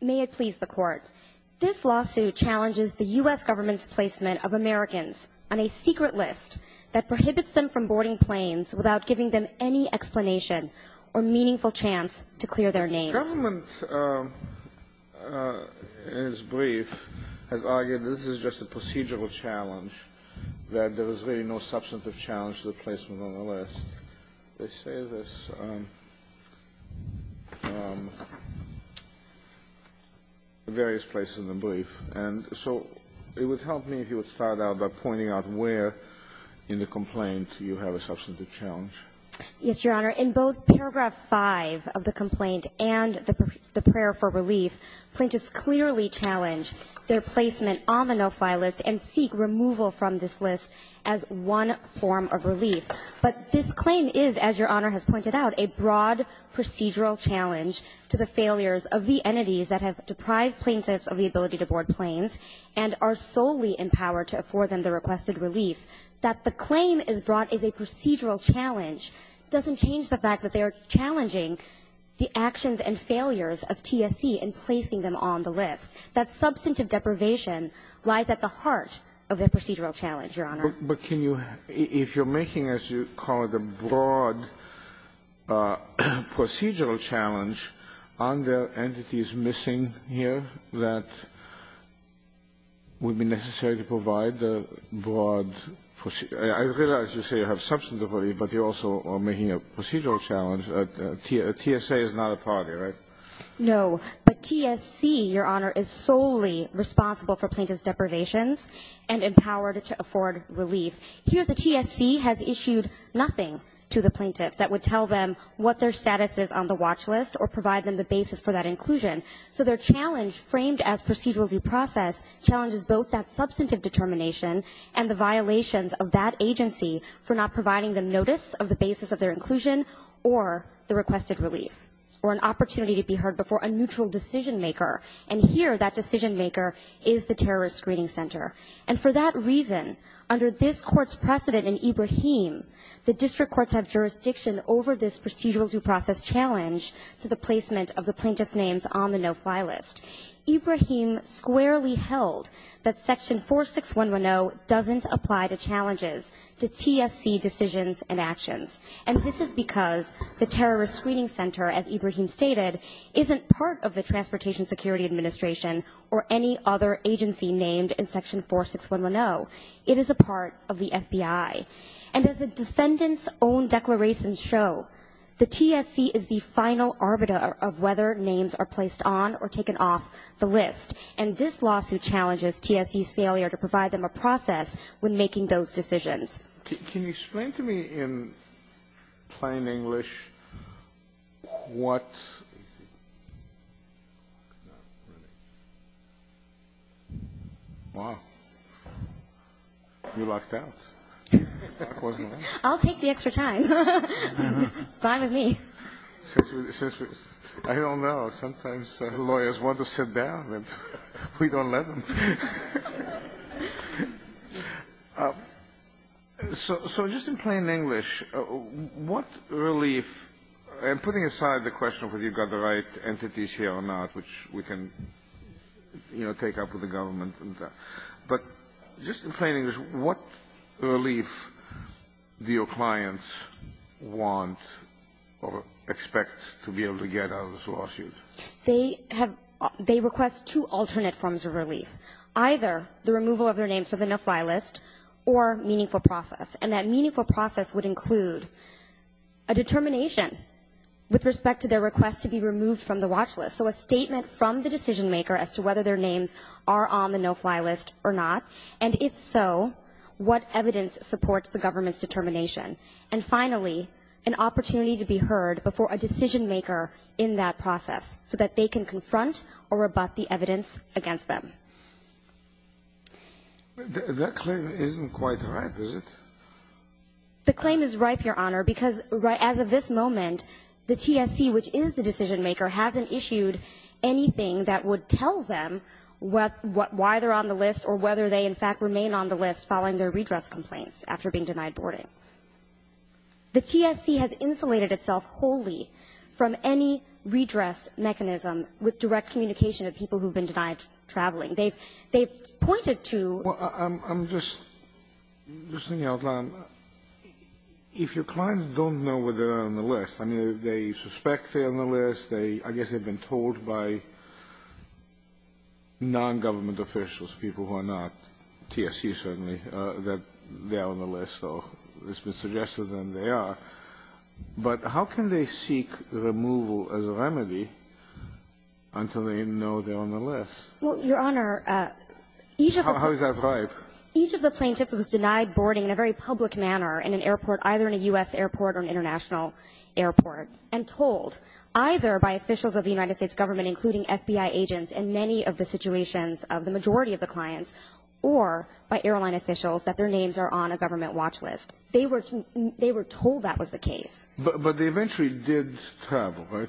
May it please the Court, this lawsuit challenges the U.S. government's placement of Americans on a secret list that prohibits them from boarding planes without giving them any explanation or meaningful chance to clear their names. The government, in its brief, has argued that this is just a procedural challenge, that there is really no substantive challenge to the placement on the list. They say this in various places in the brief. And so it would help me if you would start out by pointing out where in the complaint you have a substantive challenge. Yes, Your Honor. In both paragraph 5 of the complaint and the prayer for relief, plaintiffs clearly challenge their placement on the no-fly list and seek removal from this list as one form of relief. But this claim is, as Your Honor has pointed out, a broad procedural challenge to the failures of the entities that have deprived plaintiffs of the ability to board planes and are solely empowered to afford them the requested relief. That the claim is brought as a procedural challenge doesn't change the fact that they are challenging the actions and failures of TSC in placing them on the list. That substantive deprivation lies at the heart of the procedural challenge, Your Honor. But can you, if you're making, as you call it, a broad procedural challenge, are there entities missing here that would be necessary to provide the broad? I realize you say you have substantive, but you also are making a procedural challenge. TSA is not a party, right? No. But TSC, Your Honor, is solely responsible for plaintiff's deprivations and empowered to afford relief. Here the TSC has issued nothing to the plaintiffs that would tell them what their status is on the watch list or provide them the basis for that inclusion. So their challenge framed as procedural due process challenges both that substantive determination and the violations of that agency for not providing them notice of the basis of their inclusion or the requested relief or an opportunity to be heard before a neutral decision maker. And here that decision maker is the terrorist screening center. And for that reason, under this Court's precedent in Ibrahim, the district courts have jurisdiction over this procedural due process challenge to the placement of the plaintiff's names on the no-fly list. Ibrahim squarely held that Section 46110 doesn't apply to challenges to TSC decisions and actions. And this is because the terrorist screening center, as Ibrahim stated, isn't part of the Transportation Security Administration or any other agency named in Section 46110. It is a part of the FBI. And as the defendant's own declarations show, the TSC is the final arbiter of whether names are placed on or taken off the list. And this lawsuit challenges TSC's failure to provide them a process when making those decisions. Can you explain to me in plain English what you locked out? I'll take the extra time. It's fine with me. I don't know. Sometimes lawyers want to sit down, but we don't let them. So just in plain English, what relief? I'm putting aside the question of whether you've got the right entities here or not, which we can, you know, take up with the government. But just in plain English, what relief do your clients want or expect to be able to get out of this lawsuit? They request two alternate forms of relief, either the removal of their names from the no-fly list or meaningful process. And that meaningful process would include a determination with respect to their request to be removed from the watch list, so a statement from the decision-maker as to whether their names are on the no-fly list or not, and if so, what evidence supports the government's determination. And finally, an opportunity to be heard before a decision-maker in that process, so that they can confront or rebut the evidence against them. That claim isn't quite right, is it? The claim is ripe, Your Honor, because as of this moment, the TSC, which is the decision-maker, hasn't issued anything that would tell them why they're on the list or whether they, in fact, remain on the list following their redress complaints after being denied boarding. The TSC has insulated itself wholly from any redress mechanism with direct communication of people who've been denied traveling. They've pointed to the fact that they're on the list. I'm just thinking out loud. If your client don't know whether they're on the list, I mean, they suspect they're on the list, I guess they've been told by nongovernment officials, people who are not TSC, certainly, that they are on the list, or it's been suggested that they are. But how can they seek removal as a remedy until they know they're on the list? Well, Your Honor, each of the plaintiffs was denied boarding in a very public manner in an airport, either in a U.S. airport or an international airport, and told either by officials of the United States government, including FBI agents in many of the situations of the majority of the clients, or by airline officials that their names are on a government watch list. They were told that was the case. But they eventually did travel, right?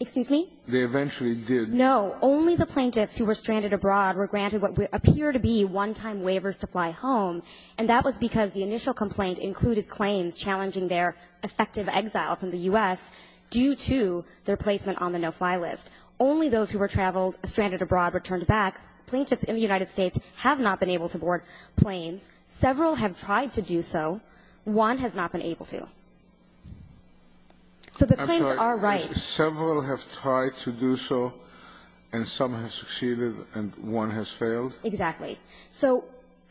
Excuse me? They eventually did. No. Only the plaintiffs who were stranded abroad were granted what appeared to be one-time waivers to fly home, and that was because the initial complaint included claims challenging their effective exile from the U.S. due to their placement on the no-fly list. Only those who were traveled, stranded abroad, were turned back. Plaintiffs in the United States have not been able to board planes. Several have tried to do so. One has not been able to. So the claims are right. I'm sorry. Several have tried to do so, and some have succeeded, and one has failed? Exactly. So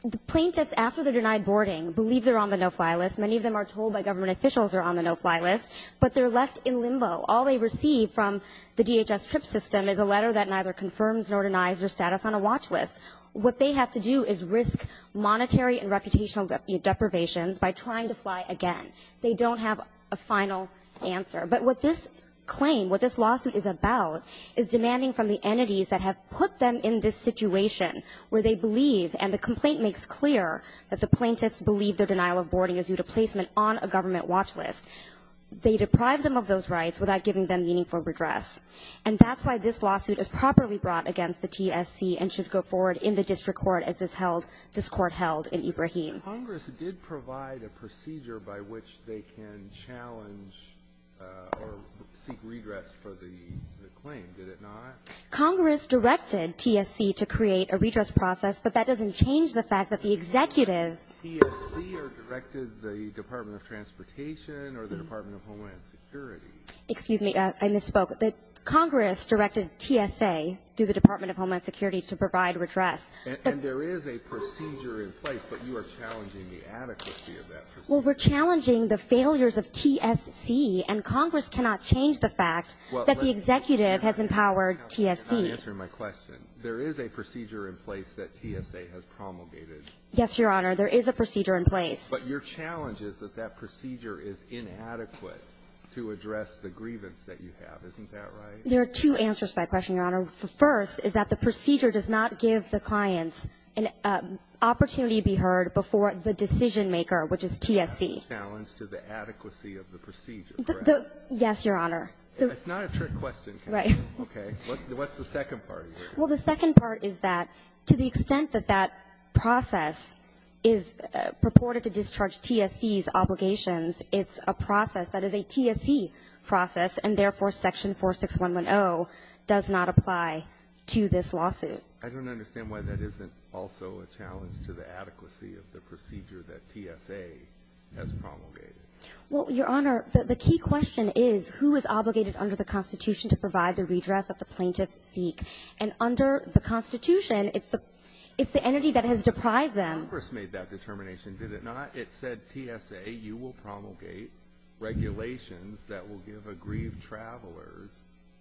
the plaintiffs, after they're denied boarding, believe they're on the no-fly list. Many of them are told by government officials they're on the no-fly list, but they're left in limbo. All they receive from the DHS trip system is a letter that neither confirms nor denies their status on a watch list. What they have to do is risk monetary and reputational deprivations by trying to fly again. They don't have a final answer. But what this claim, what this lawsuit is about, is demanding from the entities that have put them in this situation where they believe and the complaint makes clear that the plaintiffs believe their denial of boarding is due to placement on a government watch list. They deprive them of those rights without giving them meaningful redress. And that's why this lawsuit is properly brought against the TSC and should go forward in the district court as is held, this Court held in Ibrahim. Kennedy. Congress did provide a procedure by which they can challenge or seek redress for the claim, did it not? Congress directed TSC to create a redress process, but that doesn't change the fact that the executive- TSC or directed the Department of Transportation or the Department of Homeland Security. Excuse me. I misspoke. Congress directed TSA, through the Department of Homeland Security, to provide redress. And there is a procedure in place, but you are challenging the adequacy of that procedure. Well, we're challenging the failures of TSC, and Congress cannot change the fact that the executive has empowered TSC. You're not answering my question. There is a procedure in place that TSA has promulgated. Yes, Your Honor. There is a procedure in place. But your challenge is that that procedure is inadequate to address the grievance that Isn't that right? There are two answers to that question, Your Honor. The first is that the procedure does not give the clients an opportunity to be heard before the decisionmaker, which is TSC. You're not challenging the adequacy of the procedure, correct? Yes, Your Honor. That's not a trick question. Right. Okay. What's the second part of that? Well, the second part is that to the extent that that process is purported to discharge TSC's obligations, it's a process that is a TSC process, and therefore, Section 46110 does not apply to this lawsuit. I don't understand why that isn't also a challenge to the adequacy of the procedure that TSA has promulgated. Well, Your Honor, the key question is, who is obligated under the Constitution to provide the redress that the plaintiffs seek? And under the Constitution, it's the entity that has deprived them. Congress made that determination, did it not? It said, TSA, you will promulgate regulations that will give aggrieved travelers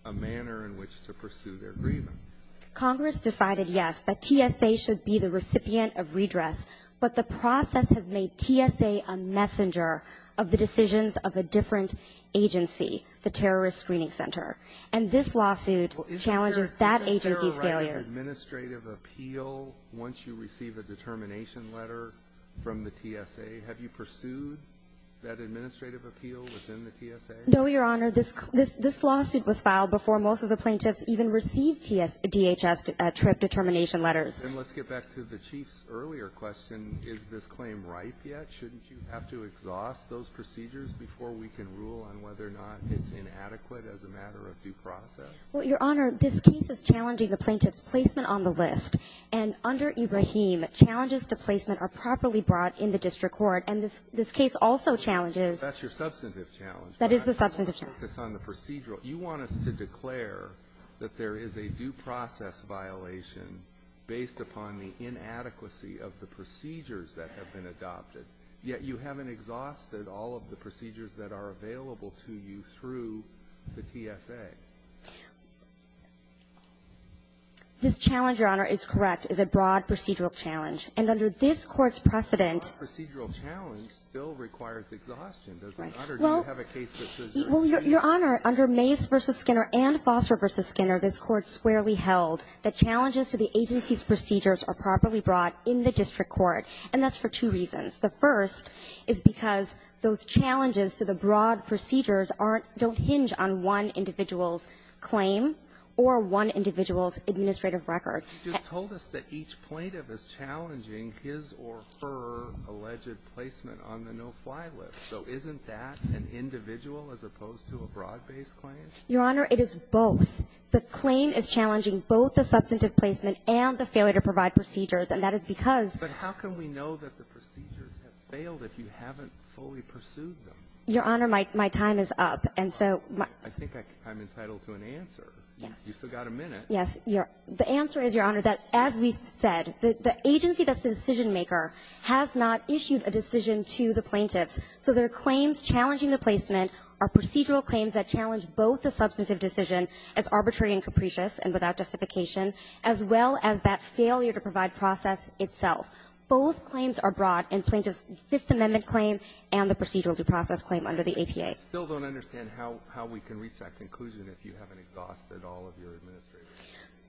a manner in which to pursue their grievance. Congress decided, yes, that TSA should be the recipient of redress, but the process has made TSA a messenger of the decisions of a different agency, the Terrorist Screening Center. And this lawsuit challenges that agency's failures. Has there been an administrative appeal once you receive a determination letter from the TSA? Have you pursued that administrative appeal within the TSA? No, Your Honor. This lawsuit was filed before most of the plaintiffs even received DHS trip determination letters. And let's get back to the Chief's earlier question. Is this claim ripe yet? Shouldn't you have to exhaust those procedures before we can rule on whether or not it's inadequate as a matter of due process? Well, Your Honor, this case is challenging the plaintiff's placement on the list. And under Ibrahim, challenges to placement are properly brought in the district court. And this case also challenges the plaintiff's placement on the list. That's your substantive challenge. That is the substantive challenge. But I want to focus on the procedural. You want us to declare that there is a due process violation based upon the inadequacy of the procedures that are available to you through the TSA. This challenge, Your Honor, is correct. It's a broad procedural challenge. And under this Court's precedent. A broad procedural challenge still requires exhaustion. Right. Well, Your Honor, under Mace v. Skinner and Foster v. Skinner, this Court squarely held that challenges to the agency's procedures are properly brought in the district court. And that's for two reasons. The first is because those challenges to the broad procedures aren't don't hinge on one individual's claim or one individual's administrative record. You just told us that each plaintiff is challenging his or her alleged placement on the no-fly list. So isn't that an individual as opposed to a broad-based claim? Your Honor, it is both. The claim is challenging both the substantive placement and the failure to provide procedures. And that is because ---- But how can we know that the procedures have failed if you haven't fully pursued them? Your Honor, my time is up. And so my ---- I think I'm entitled to an answer. Yes. You've still got a minute. Yes. The answer is, Your Honor, that as we said, the agency that's the decisionmaker has not issued a decision to the plaintiffs. So their claims challenging the placement are procedural claims that challenge both the substantive decision as arbitrary and capricious and without justification as well as that failure to provide process itself. Both claims are broad in plaintiff's Fifth Amendment claim and the procedural due process claim under the APA. I still don't understand how we can reach that conclusion if you haven't exhausted all of your administrative records.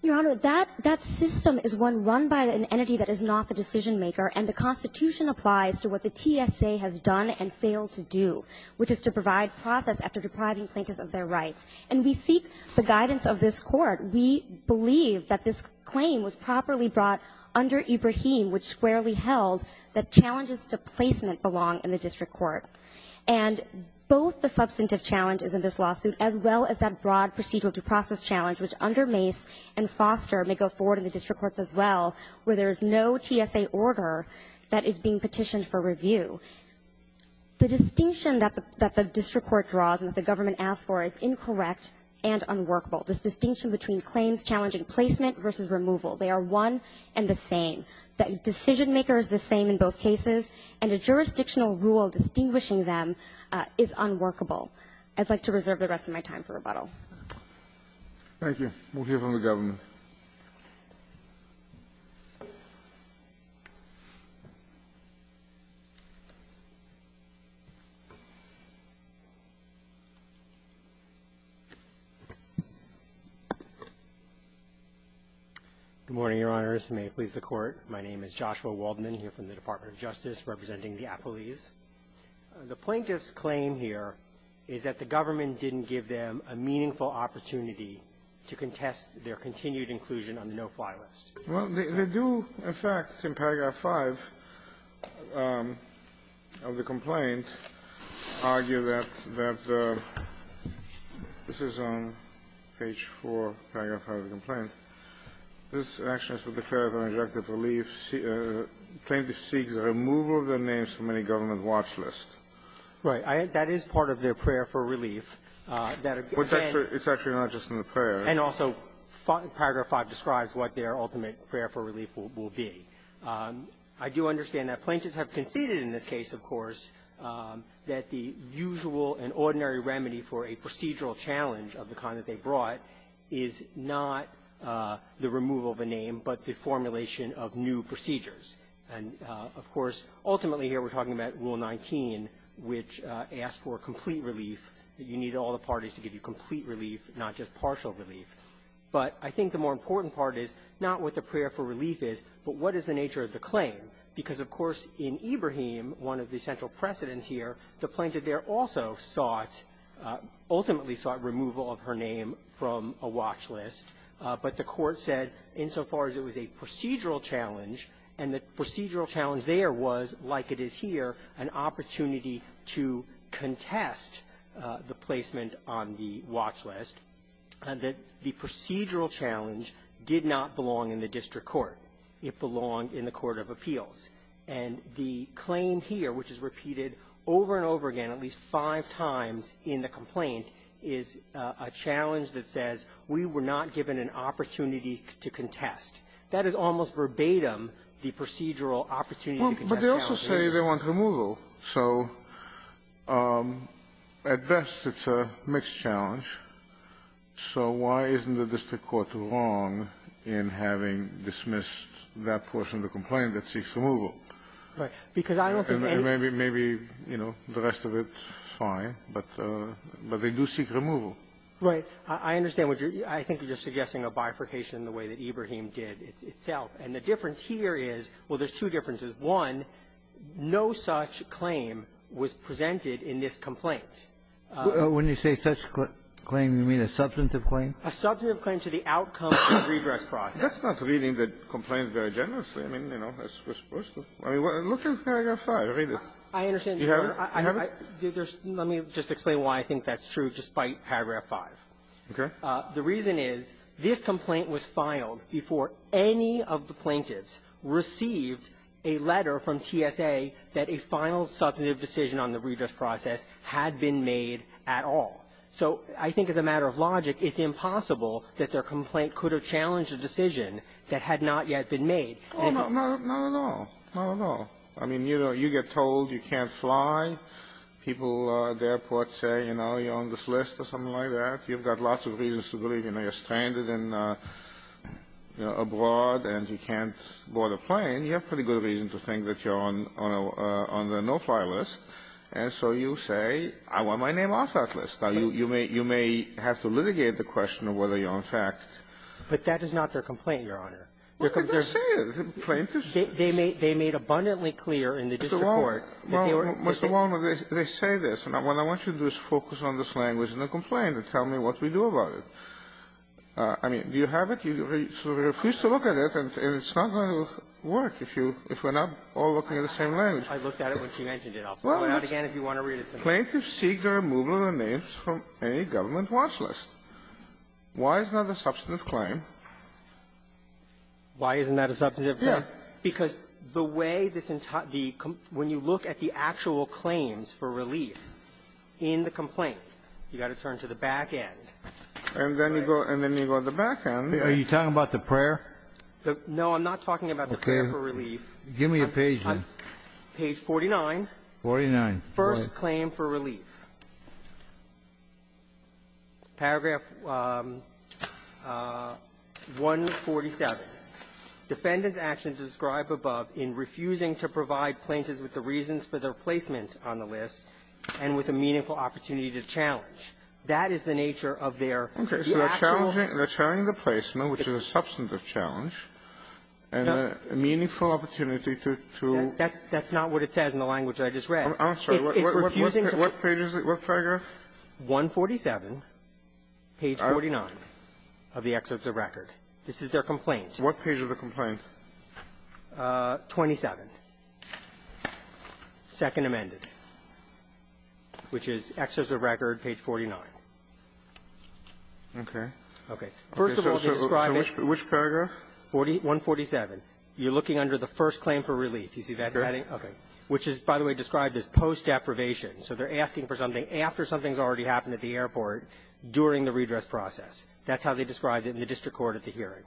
Your Honor, that system is one run by an entity that is not the decisionmaker. And the Constitution applies to what the TSA has done and failed to do, which is to provide process after depriving plaintiffs of their rights. And we seek the guidance of this Court. We believe that this claim was properly brought under Ibrahim, which squarely held that challenges to placement belong in the district court. And both the substantive challenge is in this lawsuit as well as that broad procedural due process challenge, which under Mace and Foster may go forward in the district courts as well, where there is no TSA order that is being petitioned for review. The distinction that the district court draws and that the government asks for is incorrect and unworkable. This distinction between claims challenging placement versus removal, they are one and the same. The decisionmaker is the same in both cases, and a jurisdictional rule distinguishing them is unworkable. I'd like to reserve the rest of my time for rebuttal. Thank you. We'll hear from the government. Welcome. Good morning, Your Honors. May it please the Court. My name is Joshua Waldman, here from the Department of Justice, representing the appellees. The plaintiff's claim here is that the government didn't give them a meaningful opportunity to contest their continued inclusion on the no-fly list. Well, they do, in fact, in Paragraph 5 of the complaint, argue that the – this is on page 4, Paragraph 5 of the complaint. This action is for the purpose of an injunctive relief. The plaintiff seeks the removal of their names from any government watch list. Right. That is part of their prayer for relief. Well, it's actually not just in the prayer. And also, Paragraph 5 describes what their ultimate prayer for relief will be. I do understand that plaintiffs have conceded in this case, of course, that the usual and ordinary remedy for a procedural challenge of the kind that they brought is not the removal of a name, but the formulation of new procedures. And, of course, ultimately here we're talking about Rule 19, which asks for a complete relief, that you need all the parties to give you complete relief, not just partial relief. But I think the more important part is not what the prayer for relief is, but what is the nature of the claim? Because, of course, in Ibrahim, one of the central precedents here, the plaintiff there also sought – ultimately sought removal of her name from a watch list. But the Court said insofar as it was a procedural challenge, and the procedural challenge there was, like it is here, an opportunity to contest the placement on the watch list, that the procedural challenge did not belong in the district court. It belonged in the court of appeals. And the claim here, which is repeated over and over again at least five times in the complaint, is a challenge that says we were not given an opportunity to contest. That is almost verbatim the procedural opportunity to contest the watch list. Kennedy. Well, but they also say they want removal. So at best, it's a mixed challenge. So why isn't the district court wrong in having dismissed that portion of the complaint that seeks removal? Right. Because I don't think any of the other parts of the complaint that seeks removal Right. I understand what you're – I think you're suggesting a bifurcation in the way that Ibrahim did itself. And the difference here is, well, there's two differences. One, no such claim was presented in this complaint. When you say such claim, you mean a substantive claim? A substantive claim to the outcome of the redress process. That's not reading the complaint very generously. I mean, you know, as we're supposed to. I mean, look at paragraph 5. Read it. I understand. You have it? Let me just explain why I think that's true, just by paragraph 5. Okay. The reason is, this complaint was filed before any of the plaintiffs received a letter from TSA that a final substantive decision on the redress process had been made at all. So I think as a matter of logic, it's impossible that their complaint could have challenged a decision that had not yet been made. Not at all. Not at all. I mean, you know, you get told you can't fly. People at the airport say, you know, you're on this list or something like that. You've got lots of reasons to believe. You know, you're stranded and, you know, abroad, and you can't board a plane. You have pretty good reason to think that you're on the no-fly list. And so you say, I want my name off that list. Now, you may have to litigate the question of whether you're on fact. But that is not their complaint, Your Honor. Look at this here. The plaintiffs' case. Mr. Walner, they say this. And what I want you to do is focus on this language in the complaint and tell me what we do about it. I mean, do you have it? You sort of refuse to look at it, and it's not going to work if you – if we're not all looking at the same language. I looked at it when she mentioned it. I'll pull it out again if you want to read it to me. Well, plaintiffs seek the removal of their names from any government watch list. Why is that a substantive claim? Why isn't that a substantive claim? Yes. Because the way this – when you look at the actual claims for relief in the complaint, you've got to turn to the back end. And then you go to the back end. Are you talking about the prayer? No, I'm not talking about the prayer for relief. Give me a page then. Page 49. 49. First claim for relief. Paragraph 147. Defendant's actions described above in refusing to provide plaintiffs with the reasons for their placement on the list and with a meaningful opportunity to challenge. That is the nature of their actual – Okay. So they're challenging – they're challenging the placement, which is a substantive challenge, and a meaningful opportunity to – to – That's – that's not what it says in the language I just read. I'm sorry. It's refusing to – What page is it? What paragraph? 147, page 49 of the excerpt of the record. This is their complaint. What page of the complaint? 27, Second Amendment, which is excerpt of the record, page 49. Okay. Okay. First of all, they describe it – Which paragraph? 147. You're looking under the first claim for relief. You see that heading? Okay. Which is, by the way, described as post-deprivation. So they're asking for something after something's already happened at the airport during the redress process. That's how they described it in the district court at the hearing.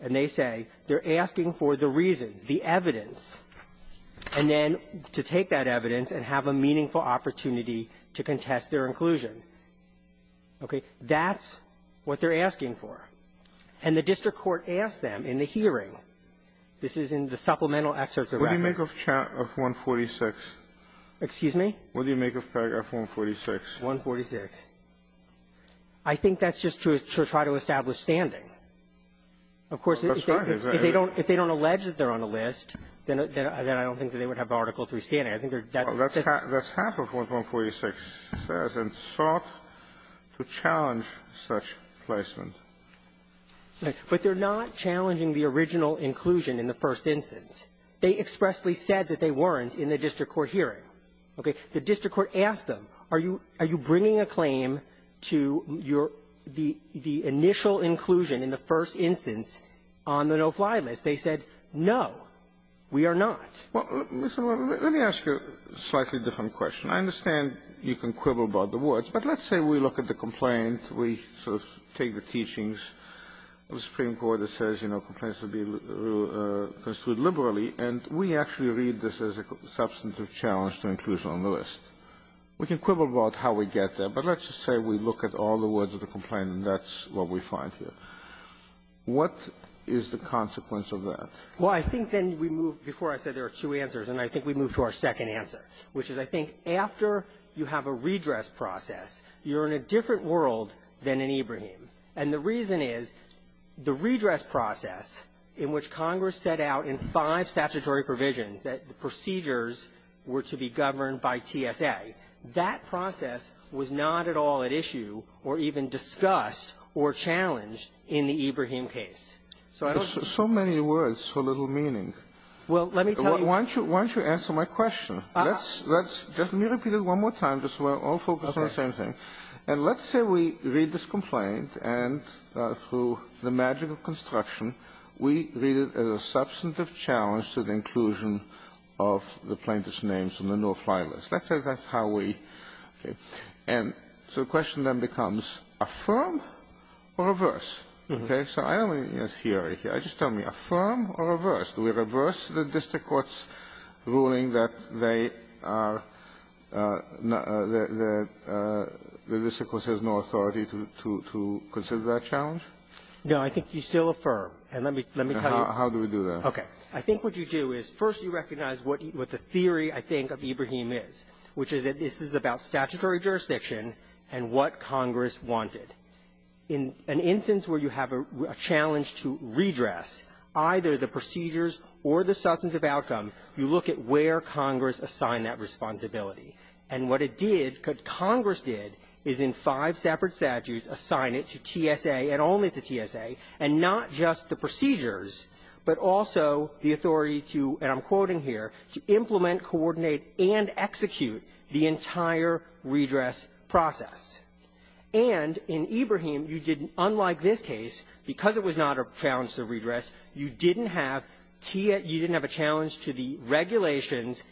And they say they're asking for the reasons, the evidence, and then to take that evidence and have a meaningful opportunity to contest their inclusion. Okay. That's what they're asking for. And the district court asked them in the hearing – this is in the supplemental excerpt of the record. What do you make of 146? Excuse me? What do you make of paragraph 146? 146. I think that's just to try to establish standing. Of course, if they don't – if they don't allege that they're on a list, then I don't think that they would have Article III standing. I think they're – That's half of what 146 says, and sought to challenge such placement. But they're not challenging the original inclusion in the first instance. They expressly said that they weren't in the district court hearing. Okay. The district court asked them, are you – are you bringing a claim to your – the initial inclusion in the first instance on the no-fly list? They said, no, we are not. Well, let me ask you a slightly different question. I understand you can quibble about the words, but let's say we look at the complaint. We sort of take the teachings of the Supreme Court that says, you know, complaints are to be construed liberally, and we actually read this as a substantive challenge to inclusion on the list. We can quibble about how we get there, but let's just say we look at all the words of the complaint, and that's what we find here. What is the consequence of that? Well, I think then we move – before I said there are two answers, and I think we move to our second answer, which is I think after you have a redress process, you're in a different world than in Ibrahim. And the reason is the redress process in which Congress set out in five statutory provisions that the procedures were to be governed by TSA, that process was not at all at issue or even discussed or challenged in the Ibrahim case. So I don't think it's the same thing. So many words for little meaning. Well, let me tell you – Why don't you – why don't you answer my question? Let's – let's – just let me repeat it one more time just so we're all focused on the same thing. Okay. And let's say we read this complaint and through the magic of construction, we read it as a substantive challenge to the inclusion of the plaintiff's names on the no-fly list. Let's say that's how we – okay. And so the question then becomes affirm or reverse, okay? So I don't even need a theory here. I just tell me affirm or reverse. Do we reverse the district court's ruling that they are – that the district court has no authority to – to consider that challenge? No. I think you still affirm. And let me – let me tell you – How do we do that? Okay. I think what you do is, first, you recognize what the theory, I think, of Ibrahim is, which is that this is about statutory jurisdiction and what Congress wanted. And in an instance where you have a challenge to redress either the procedures or the substantive outcome, you look at where Congress assigned that responsibility. And what it did, what Congress did, is in five separate statutes assign it to TSA and only to TSA, and not just the procedures, but also the authority to – and I'm quoting here – to implement, coordinate, and execute the entire redress process. And in Ibrahim, you didn't – unlike this case, because it was not a challenge to redress, you didn't have – you didn't have a challenge to the regulations,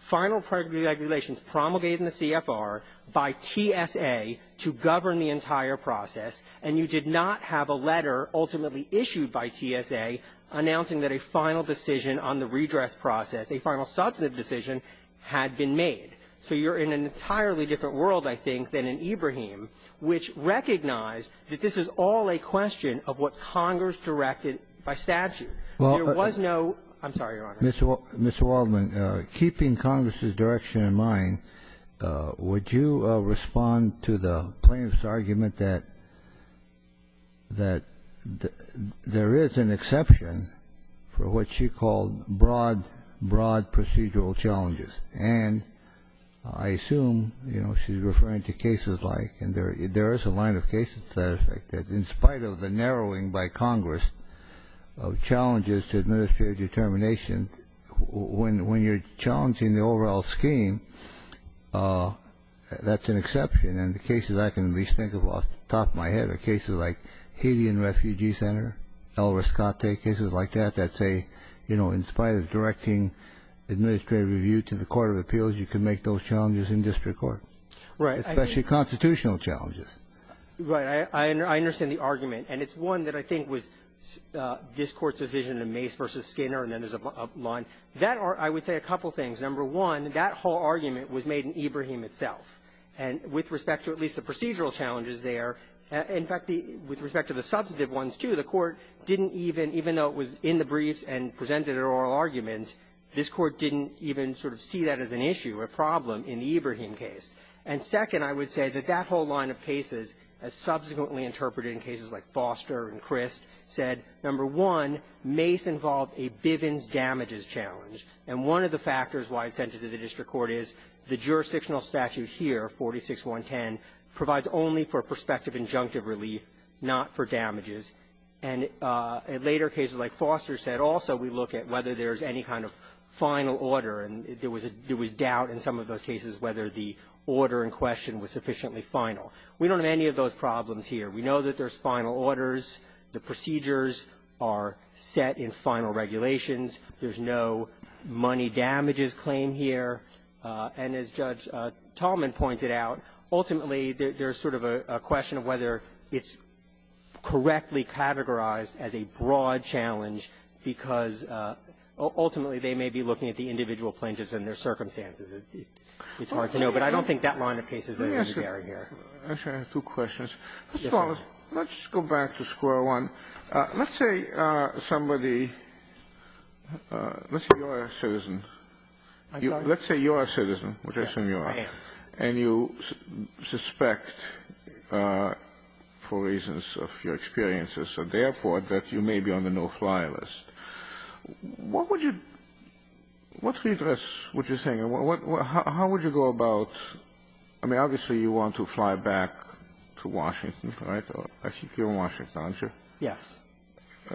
final regulations promulgated in the CFR by TSA to govern the entire process, and you did not have a letter ultimately issued by TSA announcing that a final decision on the redress process, a final substantive decision, had been made. So you're in an entirely different world, I think, than in Ibrahim, which recognized that this is all a question of what Congress directed by statute. There was no – I'm sorry, Your Honor. Kennedy, Mr. Waldman, keeping Congress's direction in mind, would you respond to the plaintiff's argument that there is an exception for what she called broad, broad procedural challenges? And I assume, you know, she's referring to cases like – and there is a line of cases, as a matter of fact, that in spite of the narrowing by Congress of challenges to administrative determination, when you're challenging the overall scheme, that's an exception. And the cases I can at least think of off the top of my head are cases like Haitian Refugee Center, El Rescate, cases like that that say, you know, in spite of directing administrative review to the court of appeals, you can make those challenges in district court. Right. Especially constitutional challenges. Right. I understand the argument. And it's one that I think was this Court's decision in Mace v. Skinner, and then there's a line. That – I would say a couple things. Number one, that whole argument was made in Ibrahim itself. And with respect to at least the procedural challenges there, in fact, with respect to the substantive ones, too, the Court didn't even – even though it was in the briefs and presented an oral argument, this Court didn't even sort of see that as an issue, a problem, in the Ibrahim case. And second, I would say that that whole line of cases, as subsequently interpreted in cases like Foster and Crist, said, number one, Mace involved a Bivens damages challenge. And one of the factors why it's entered to the district court is the jurisdictional statute here, 46-110, provides only for prospective injunctive relief, not for damages. And in later cases like Foster said, also we look at whether there's any kind of final order. And there was a – there was doubt in some of those cases whether the order in question was sufficiently final. We don't have any of those problems here. We know that there's final orders. The procedures are set in final regulations. There's no money damages claim here. And as Judge Tallman pointed out, ultimately, there's sort of a question of whether it's correctly categorized as a broad challenge, because ultimately, they may be looking at the individual plaintiffs and their circumstances. It's hard to know. But I don't think that line of cases is necessary here. Let me ask you two questions. Mr. Wallace, let's go back to square one. Let's say somebody – let's say you're a citizen. I'm sorry? Let's say you're a citizen, which I assume you are. Yes, I am. And you suspect, for reasons of your experiences at the airport, that you may be on the no-fly list. What would you – what's the address, what you're saying? How would you go about – I mean, obviously, you want to fly back to Washington, right? I think you're in Washington, aren't you? Yes.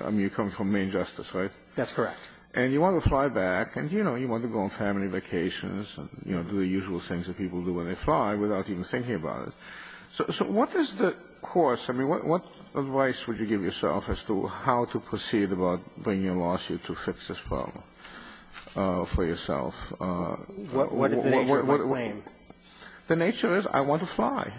I mean, you're coming from Main Justice, right? That's correct. And you want to fly back, and you know, you want to go on family vacations and, you know, that's what people do when they fly, without even thinking about it. So what is the course? I mean, what advice would you give yourself as to how to proceed about bringing a lawsuit to fix this problem for yourself? What is the nature of the claim? The nature is I want to fly.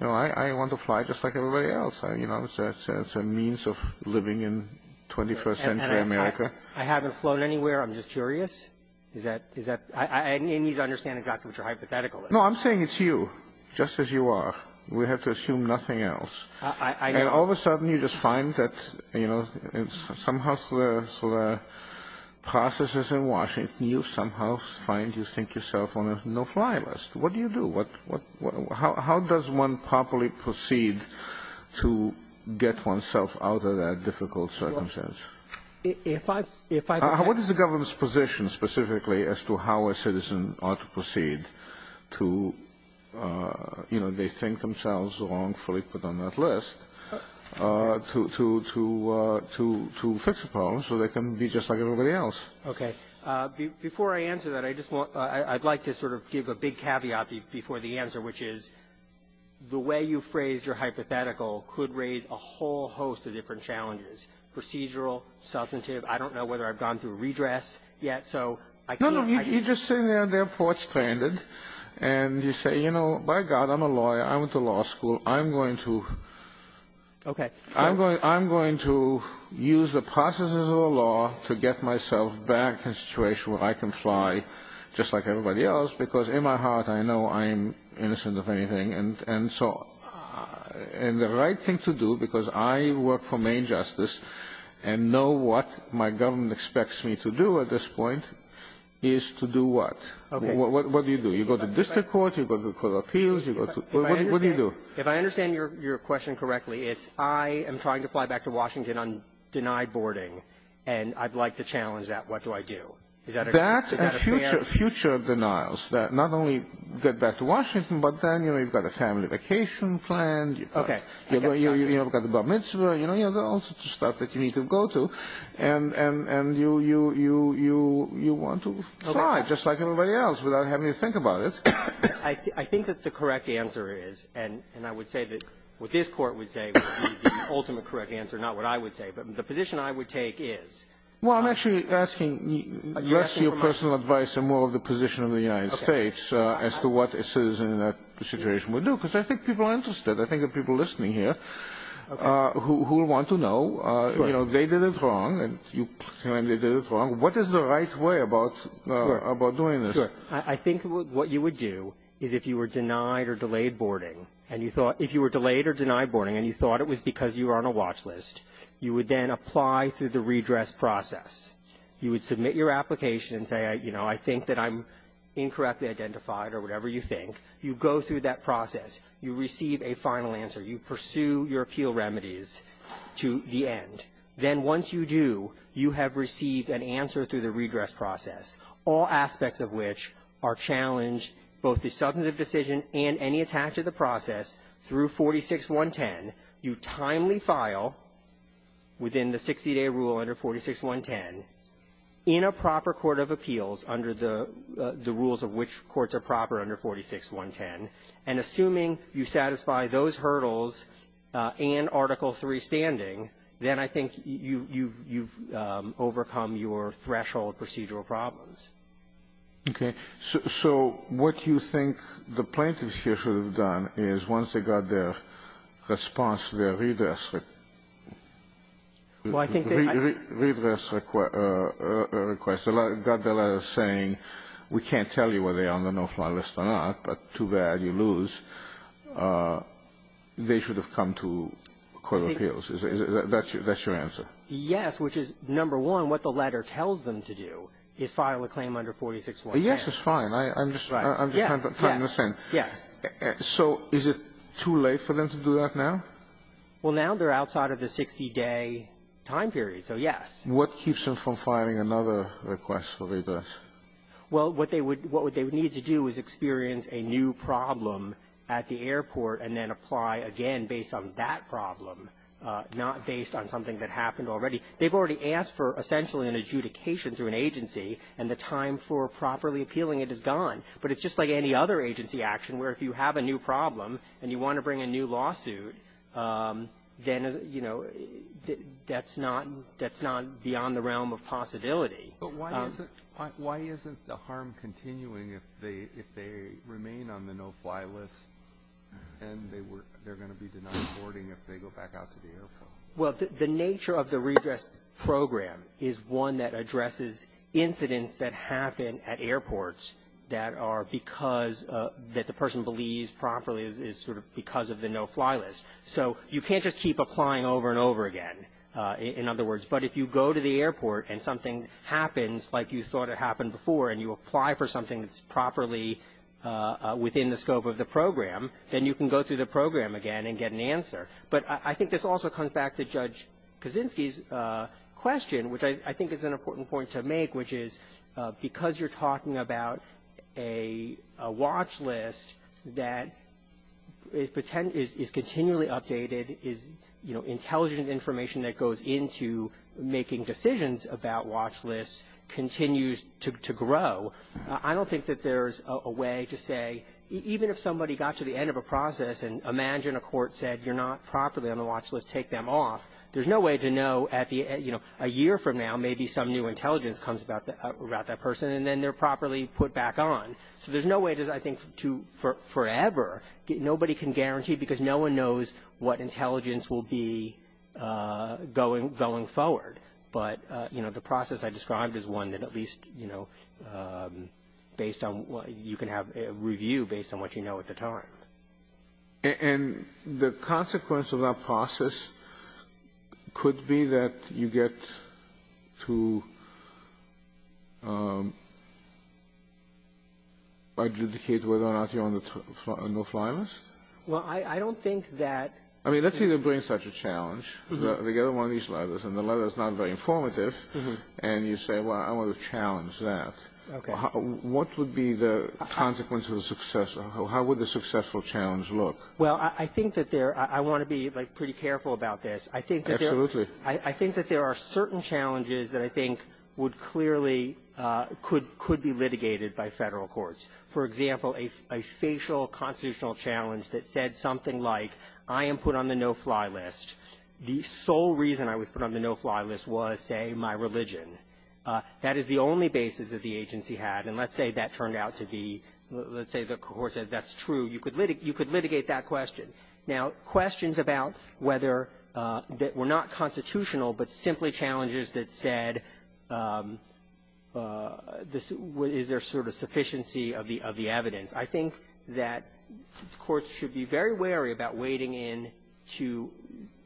You know, I want to fly just like everybody else. You know, it's a means of living in 21st century America. I haven't flown anywhere. I'm just curious. Is that – is that – I need to understand exactly what your hypothetical is. No, I'm saying it's you, just as you are. We have to assume nothing else. And all of a sudden, you just find that, you know, somehow through the processes in Washington, you somehow find you think yourself on a no-fly list. What do you do? What – how does one properly proceed to get oneself out of that difficult circumstance? If I – if I – What is the government's position specifically as to how a citizen ought to proceed to, you know, they think themselves wrongfully put on that list to – to – to fix the problem so they can be just like everybody else? Okay. Before I answer that, I just want – I'd like to sort of give a big caveat before the answer, which is the way you phrased your hypothetical could raise a whole host of different challenges, procedural, substantive. I don't know whether I've gone through redress yet, so I can't – No, no, you're just sitting there, they're port-stranded, and you say, you know, by God, I'm a lawyer, I went to law school, I'm going to – Okay. I'm going – I'm going to use the processes of the law to get myself back in a situation where I can fly just like everybody else, because in my heart, I know I'm innocent of anything. And – and so – and the right thing to do, because I work for Maine Justice and know what my government expects me to do at this point, is to do what? Okay. What – what do you do? You go to district court, you go to court of appeals, you go to – what do you do? If I understand – if I understand your – your question correctly, it's I am trying to fly back to Washington on denied boarding, and I'd like to challenge that, what do I do? Is that a – is that a clear – That and future – future denials that not only get back to Washington, but then, you know, you've got a family vacation planned. Okay. You've got the bar mitzvah, you know, all sorts of stuff that you need to go to. And – and – and you – you – you – you want to fly just like everybody else without having to think about it. I – I think that the correct answer is, and – and I would say that what this Court would say would be the ultimate correct answer, not what I would say, but the position I would take is – Well, I'm actually asking less your personal advice and more of the position of the United States as to what a citizen in that situation would do, because I think people are interested. I think there are people listening here who – who will want to know, you know, they did it wrong, and you – and they did it wrong. What is the right way about – about doing this? Sure. I think what you would do is if you were denied or delayed boarding, and you thought – if you were delayed or denied boarding, and you thought it was because you were on a watch list, you would then apply through the redress process. You would submit your application and say, you know, I think that I'm incorrectly identified or whatever you think. You go through that process. You receive a final answer. You pursue your appeal remedies to the end. Then once you do, you have received an answer through the redress process, all aspects of which are challenged, both the substantive decision and any attack to the process, through 46-110. You timely file within the 60-day rule under 46-110 in a proper court of appeals under the – the rules of which courts are proper under 46-110. And assuming you satisfy those hurdles and Article III standing, then I think you – you've – you've overcome your threshold procedural problems. Okay. So what you think the plaintiffs here should have done is once they got their response to their redress request, got the letter saying, we can't tell you whether they are on the no-fly list or not, but too bad, you lose, they should have come to court of appeals. Is that – that's your answer? Yes, which is, number one, what the letter tells them to do is file a claim under 46-110. Yes, that's fine. I'm just trying to understand. Right. Yes. Yes. Yes. So is it too late for them to do that now? Well, now they're outside of the 60-day time period, so yes. What keeps them from filing another request for redress? Well, what they would – what they would need to do is experience a new problem at the airport and then apply again based on that problem, not based on something that happened already. They've already asked for essentially an adjudication through an agency, and the time for properly appealing it is gone. But it's just like any other agency action where if you have a new problem and you don't file it, then, you know, that's not – that's not beyond the realm of possibility. But why isn't – why isn't the harm continuing if they – if they remain on the no-fly list and they were – they're going to be denied boarding if they go back out to the airport? Well, the nature of the redress program is one that addresses incidents that happen at airports that are because – that the person believes properly is sort of because of the no-fly list. So you can't just keep applying over and over again, in other words. But if you go to the airport and something happens like you thought it happened before and you apply for something that's properly within the scope of the program, then you can go through the program again and get an answer. But I think this also comes back to Judge Kaczynski's question, which I think is an important point to make, which is because you're talking about a watch list that is continually updated, is – you know, intelligent information that goes into making decisions about watch lists continues to grow. I don't think that there's a way to say – even if somebody got to the end of a process and, imagine, a court said, you're not properly on the watch list, take them off. There's no way to know at the – you know, a year from now, maybe some new intelligence comes about that person, and then they're properly put back on. So there's no way, I think, to forever – nobody can guarantee, because no one knows what intelligence will be going forward. But, you know, the process I described is one that at least, you know, based on – you can have a review based on what you know at the time. And the consequence of that process could be that you get to adjudicate whether or not you're on the no-fly list? Well, I don't think that – I mean, let's say they bring such a challenge. They get on one of these letters, and the letter's not very informative, and you say, well, I want to challenge that. Okay. What would be the consequence of the success? How would the successful challenge look? Well, I think that there – I want to be, like, pretty careful about this. I think that there are certain challenges that I think would clearly – could be litigated by Federal courts. For example, a facial constitutional challenge that said something like, I am put on the no-fly list. The sole reason I was put on the no-fly list was, say, my religion. That is the only basis that the agency had. And let's say that turned out to be – let's say the court said that's true. You could litigate that question. Now, questions about whether – that were not constitutional, but simply challenges that said, is there sort of sufficiency of the evidence? I think that courts should be very wary about wading into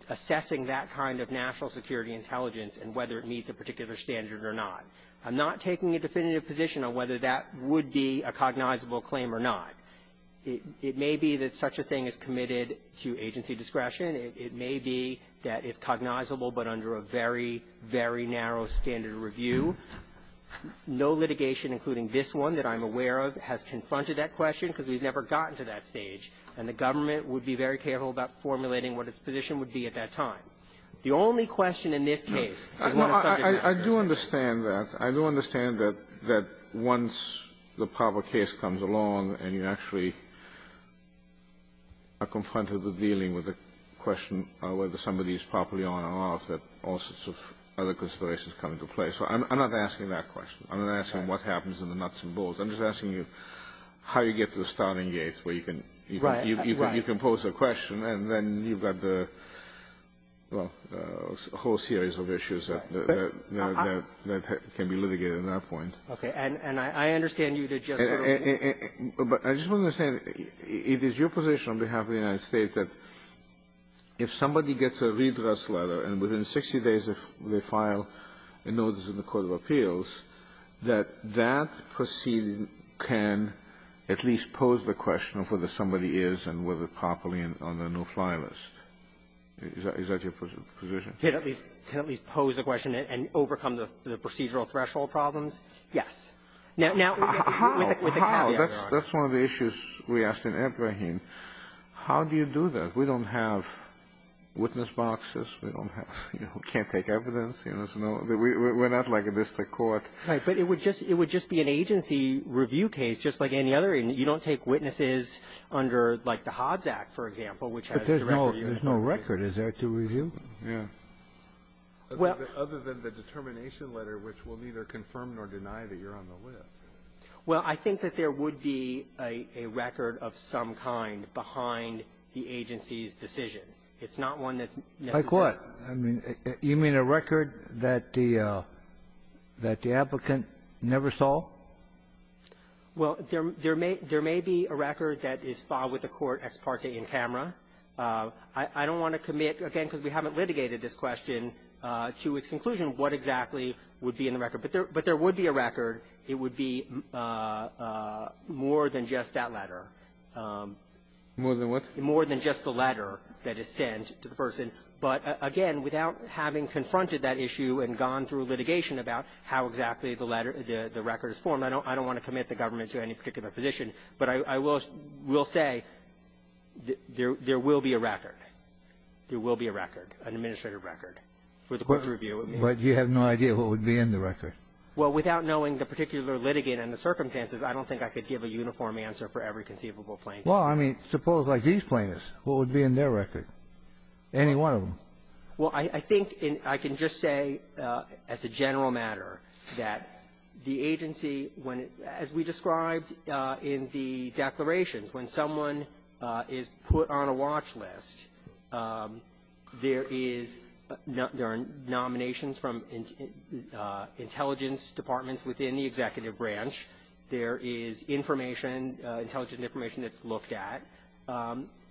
assessing that kind of national security intelligence and whether it meets a particular standard or not. I'm not taking a definitive position on whether that would be a cognizable claim or not. It may be that such a thing is committed to agency discretion. It may be that it's cognizable, but under a very, very narrow standard of review. No litigation, including this one that I'm aware of, has confronted that question because we've never gotten to that stage, and the government would be very careful about formulating what its position would be at that time. The only question in this case is what the subject matter is. Kennedy, I do understand that. I do understand that once the proper case comes along and you actually are confronted with dealing with a question of whether somebody is properly on or off, that all sorts of other considerations come into play. So I'm not asking that question. I'm not asking what happens in the nuts and bolts. I'm just asking you how you get to the starting gate where you can pose a question and then you've got the whole series of issues that can be litigated at that point. Okay. And I understand you to just sort of begin with. But I just want to say it is your position on behalf of the United States that if somebody gets a redress letter and within 60 days they file a notice in the court of appeals, that that proceeding can at least pose the question of whether somebody is and whether they're properly on the no-fly list. Is that your position? Can at least pose a question and overcome the procedural threshold problems? Yes. Now, with a caveat, Your Honor. How? That's one of the issues we asked in Ebrahim. How do you do that? We don't have witness boxes. We don't have, you know, can't take evidence. You know, there's no we're not like a district court. Right. But it would just be an agency review case just like any other. I mean, you don't take witnesses under, like, the Hobbs Act, for example, which has the record. But there's no record. Is there to review? Yeah. Well. Other than the determination letter, which will neither confirm nor deny that you're on the list. Well, I think that there would be a record of some kind behind the agency's decision. It's not one that's necessary. Like what? I mean, you mean a record that the applicant never saw? Well, there may be a record that is filed with the court ex parte in camera. I don't want to commit, again, because we haven't litigated this question, to its conclusion what exactly would be in the record. But there would be a record. It would be more than just that letter. More than what? More than just the letter that is sent to the person. But again, without having confronted that issue and gone through litigation about how exactly the record is formed, I don't want to commit the government to any particular position. But I will say there will be a record. There will be a record, an administrative record, for the court to review. But you have no idea what would be in the record? Well, without knowing the particular litigant and the circumstances, I don't think I could give a uniform answer for every conceivable plaintiff. Well, I mean, suppose like these plaintiffs. What would be in their record? Any one of them? Well, I think I can just say as a general matter that the agency, when it as we described in the declarations, when someone is put on a watch list, there is no other nominations from intelligence departments within the executive branch. There is information, intelligent information, that's looked at.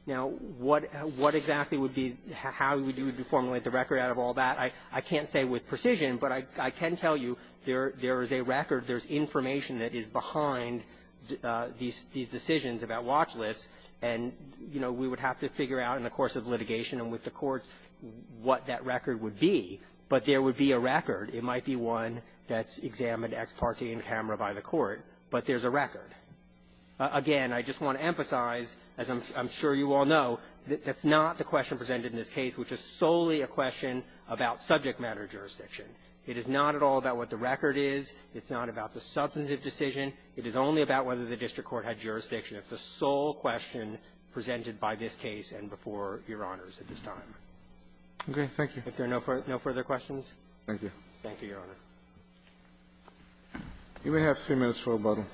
Now, what exactly would be how we do to formulate the record out of all that? I can't say with precision, but I can tell you there is a record. There is information that is behind these decisions about watch lists. And, you know, we would have to figure out in the course of litigation and with the court what that record would be. But there would be a record. It might be one that's examined ex parte in camera by the court. But there's a record. Again, I just want to emphasize, as I'm sure you all know, that that's not the question presented in this case, which is solely a question about subject matter jurisdiction. It is not at all about what the record is. It's not about the substantive decision. It is only about whether the district court had jurisdiction. It's the sole question presented by this case and before Your Honors at this time. Okay. Thank you. If there are no further questions. Thank you. Thank you, Your Honor. You may have three minutes for rebuttal.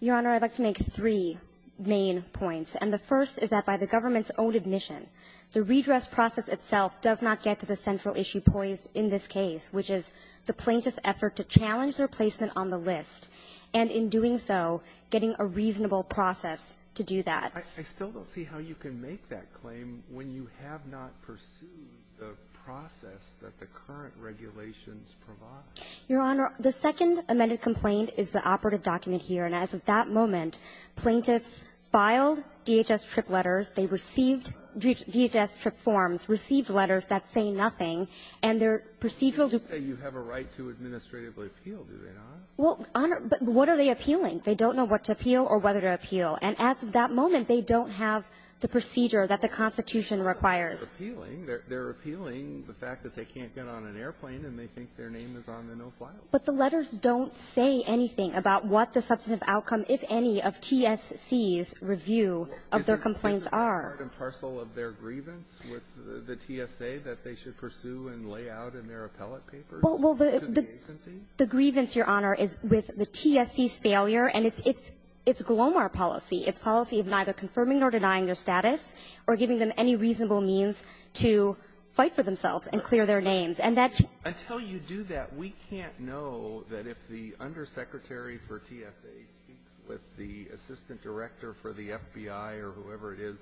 Your Honor, I'd like to make three main points. And the first is that by the government's own admission, the redress process itself does not get to the central issue poised in this case, which is the plaintiff's effort to challenge their placement on the list. And in doing so, getting a reasonable process to do that. I still don't see how you can make that claim when you have not pursued the process that the current regulations provide. Your Honor, the second amended complaint is the operative document here. And as of that moment, plaintiffs filed DHS TRIP letters. They received DHS TRIP forms, received letters that say nothing. And their procedural due to the plaintiff's claim. They say you have a right to administrative appeal. Do they not? Well, Honor, but what are they appealing? They don't know what to appeal or whether to appeal. And as of that moment, they don't have the procedure that the Constitution requires. They're appealing the fact that they can't get on an airplane and they think their name is on the no-fly list. But the letters don't say anything about what the substantive outcome, if any, of TSC's review of their complaints are. Isn't this part and parcel of their grievance with the TSA that they should pursue and lay out in their appellate papers to the agency? The grievance, Your Honor, is with the TSC's failure. And it's Glomar policy. It's policy of neither confirming nor denying their status or giving them any reasonable means to fight for themselves and clear their names. And that's you. Until you do that, we can't know that if the undersecretary for TSA speaks with the assistant director for the FBI or whoever it is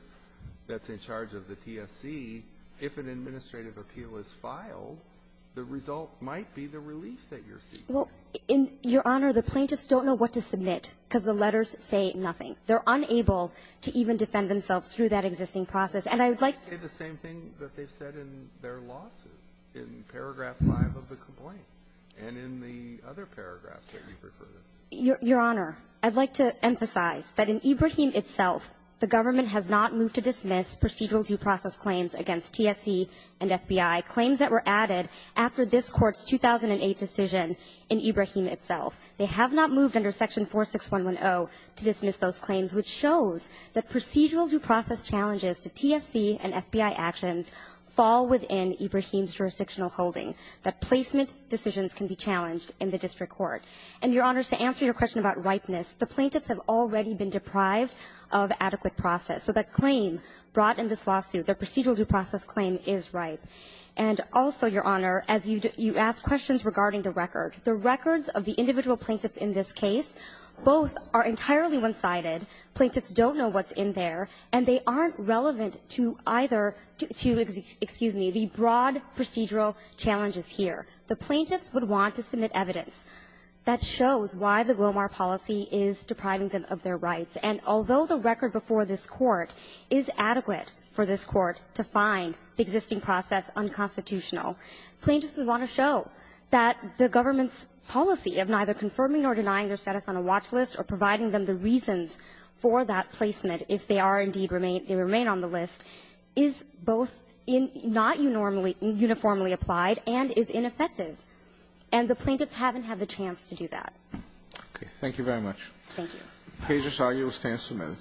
that's in charge of the TSC, if an Well, Your Honor, the plaintiffs don't know what to submit because the letters say nothing. They're unable to even defend themselves through that existing process. And I would like to say the same thing that they've said in their lawsuits, in paragraph five of the complaint and in the other paragraphs that you've referred to. Your Honor, I'd like to emphasize that in Ibrahim itself, the government has not moved to dismiss procedural due process claims against TSC and FBI, claims that were added after this court's 2008 decision in Ibrahim itself. They have not moved under section 46110 to dismiss those claims, which shows that procedural due process challenges to TSC and FBI actions fall within Ibrahim's jurisdictional holding, that placement decisions can be challenged in the district court. And, Your Honor, to answer your question about ripeness, the plaintiffs have already been deprived of adequate process. So that claim brought in this lawsuit, the procedural due process claim, is ripe. And also, Your Honor, as you ask questions regarding the record, the records of the individual plaintiffs in this case, both are entirely one-sided. Plaintiffs don't know what's in there, and they aren't relevant to either to the broad procedural challenges here. The plaintiffs would want to submit evidence that shows why the Glomar policy is depriving them of their rights. And although the record before this Court is adequate for this Court to find the existing due process unconstitutional, plaintiffs would want to show that the government's policy of neither confirming or denying their status on a watch list or providing them the reasons for that placement if they are indeed remain they remain on the list is both not uniformly applied and is ineffective. And the plaintiffs haven't had the chance to do that. Roberts. Thank you very much. Thank you. Pager's argument stands submitted.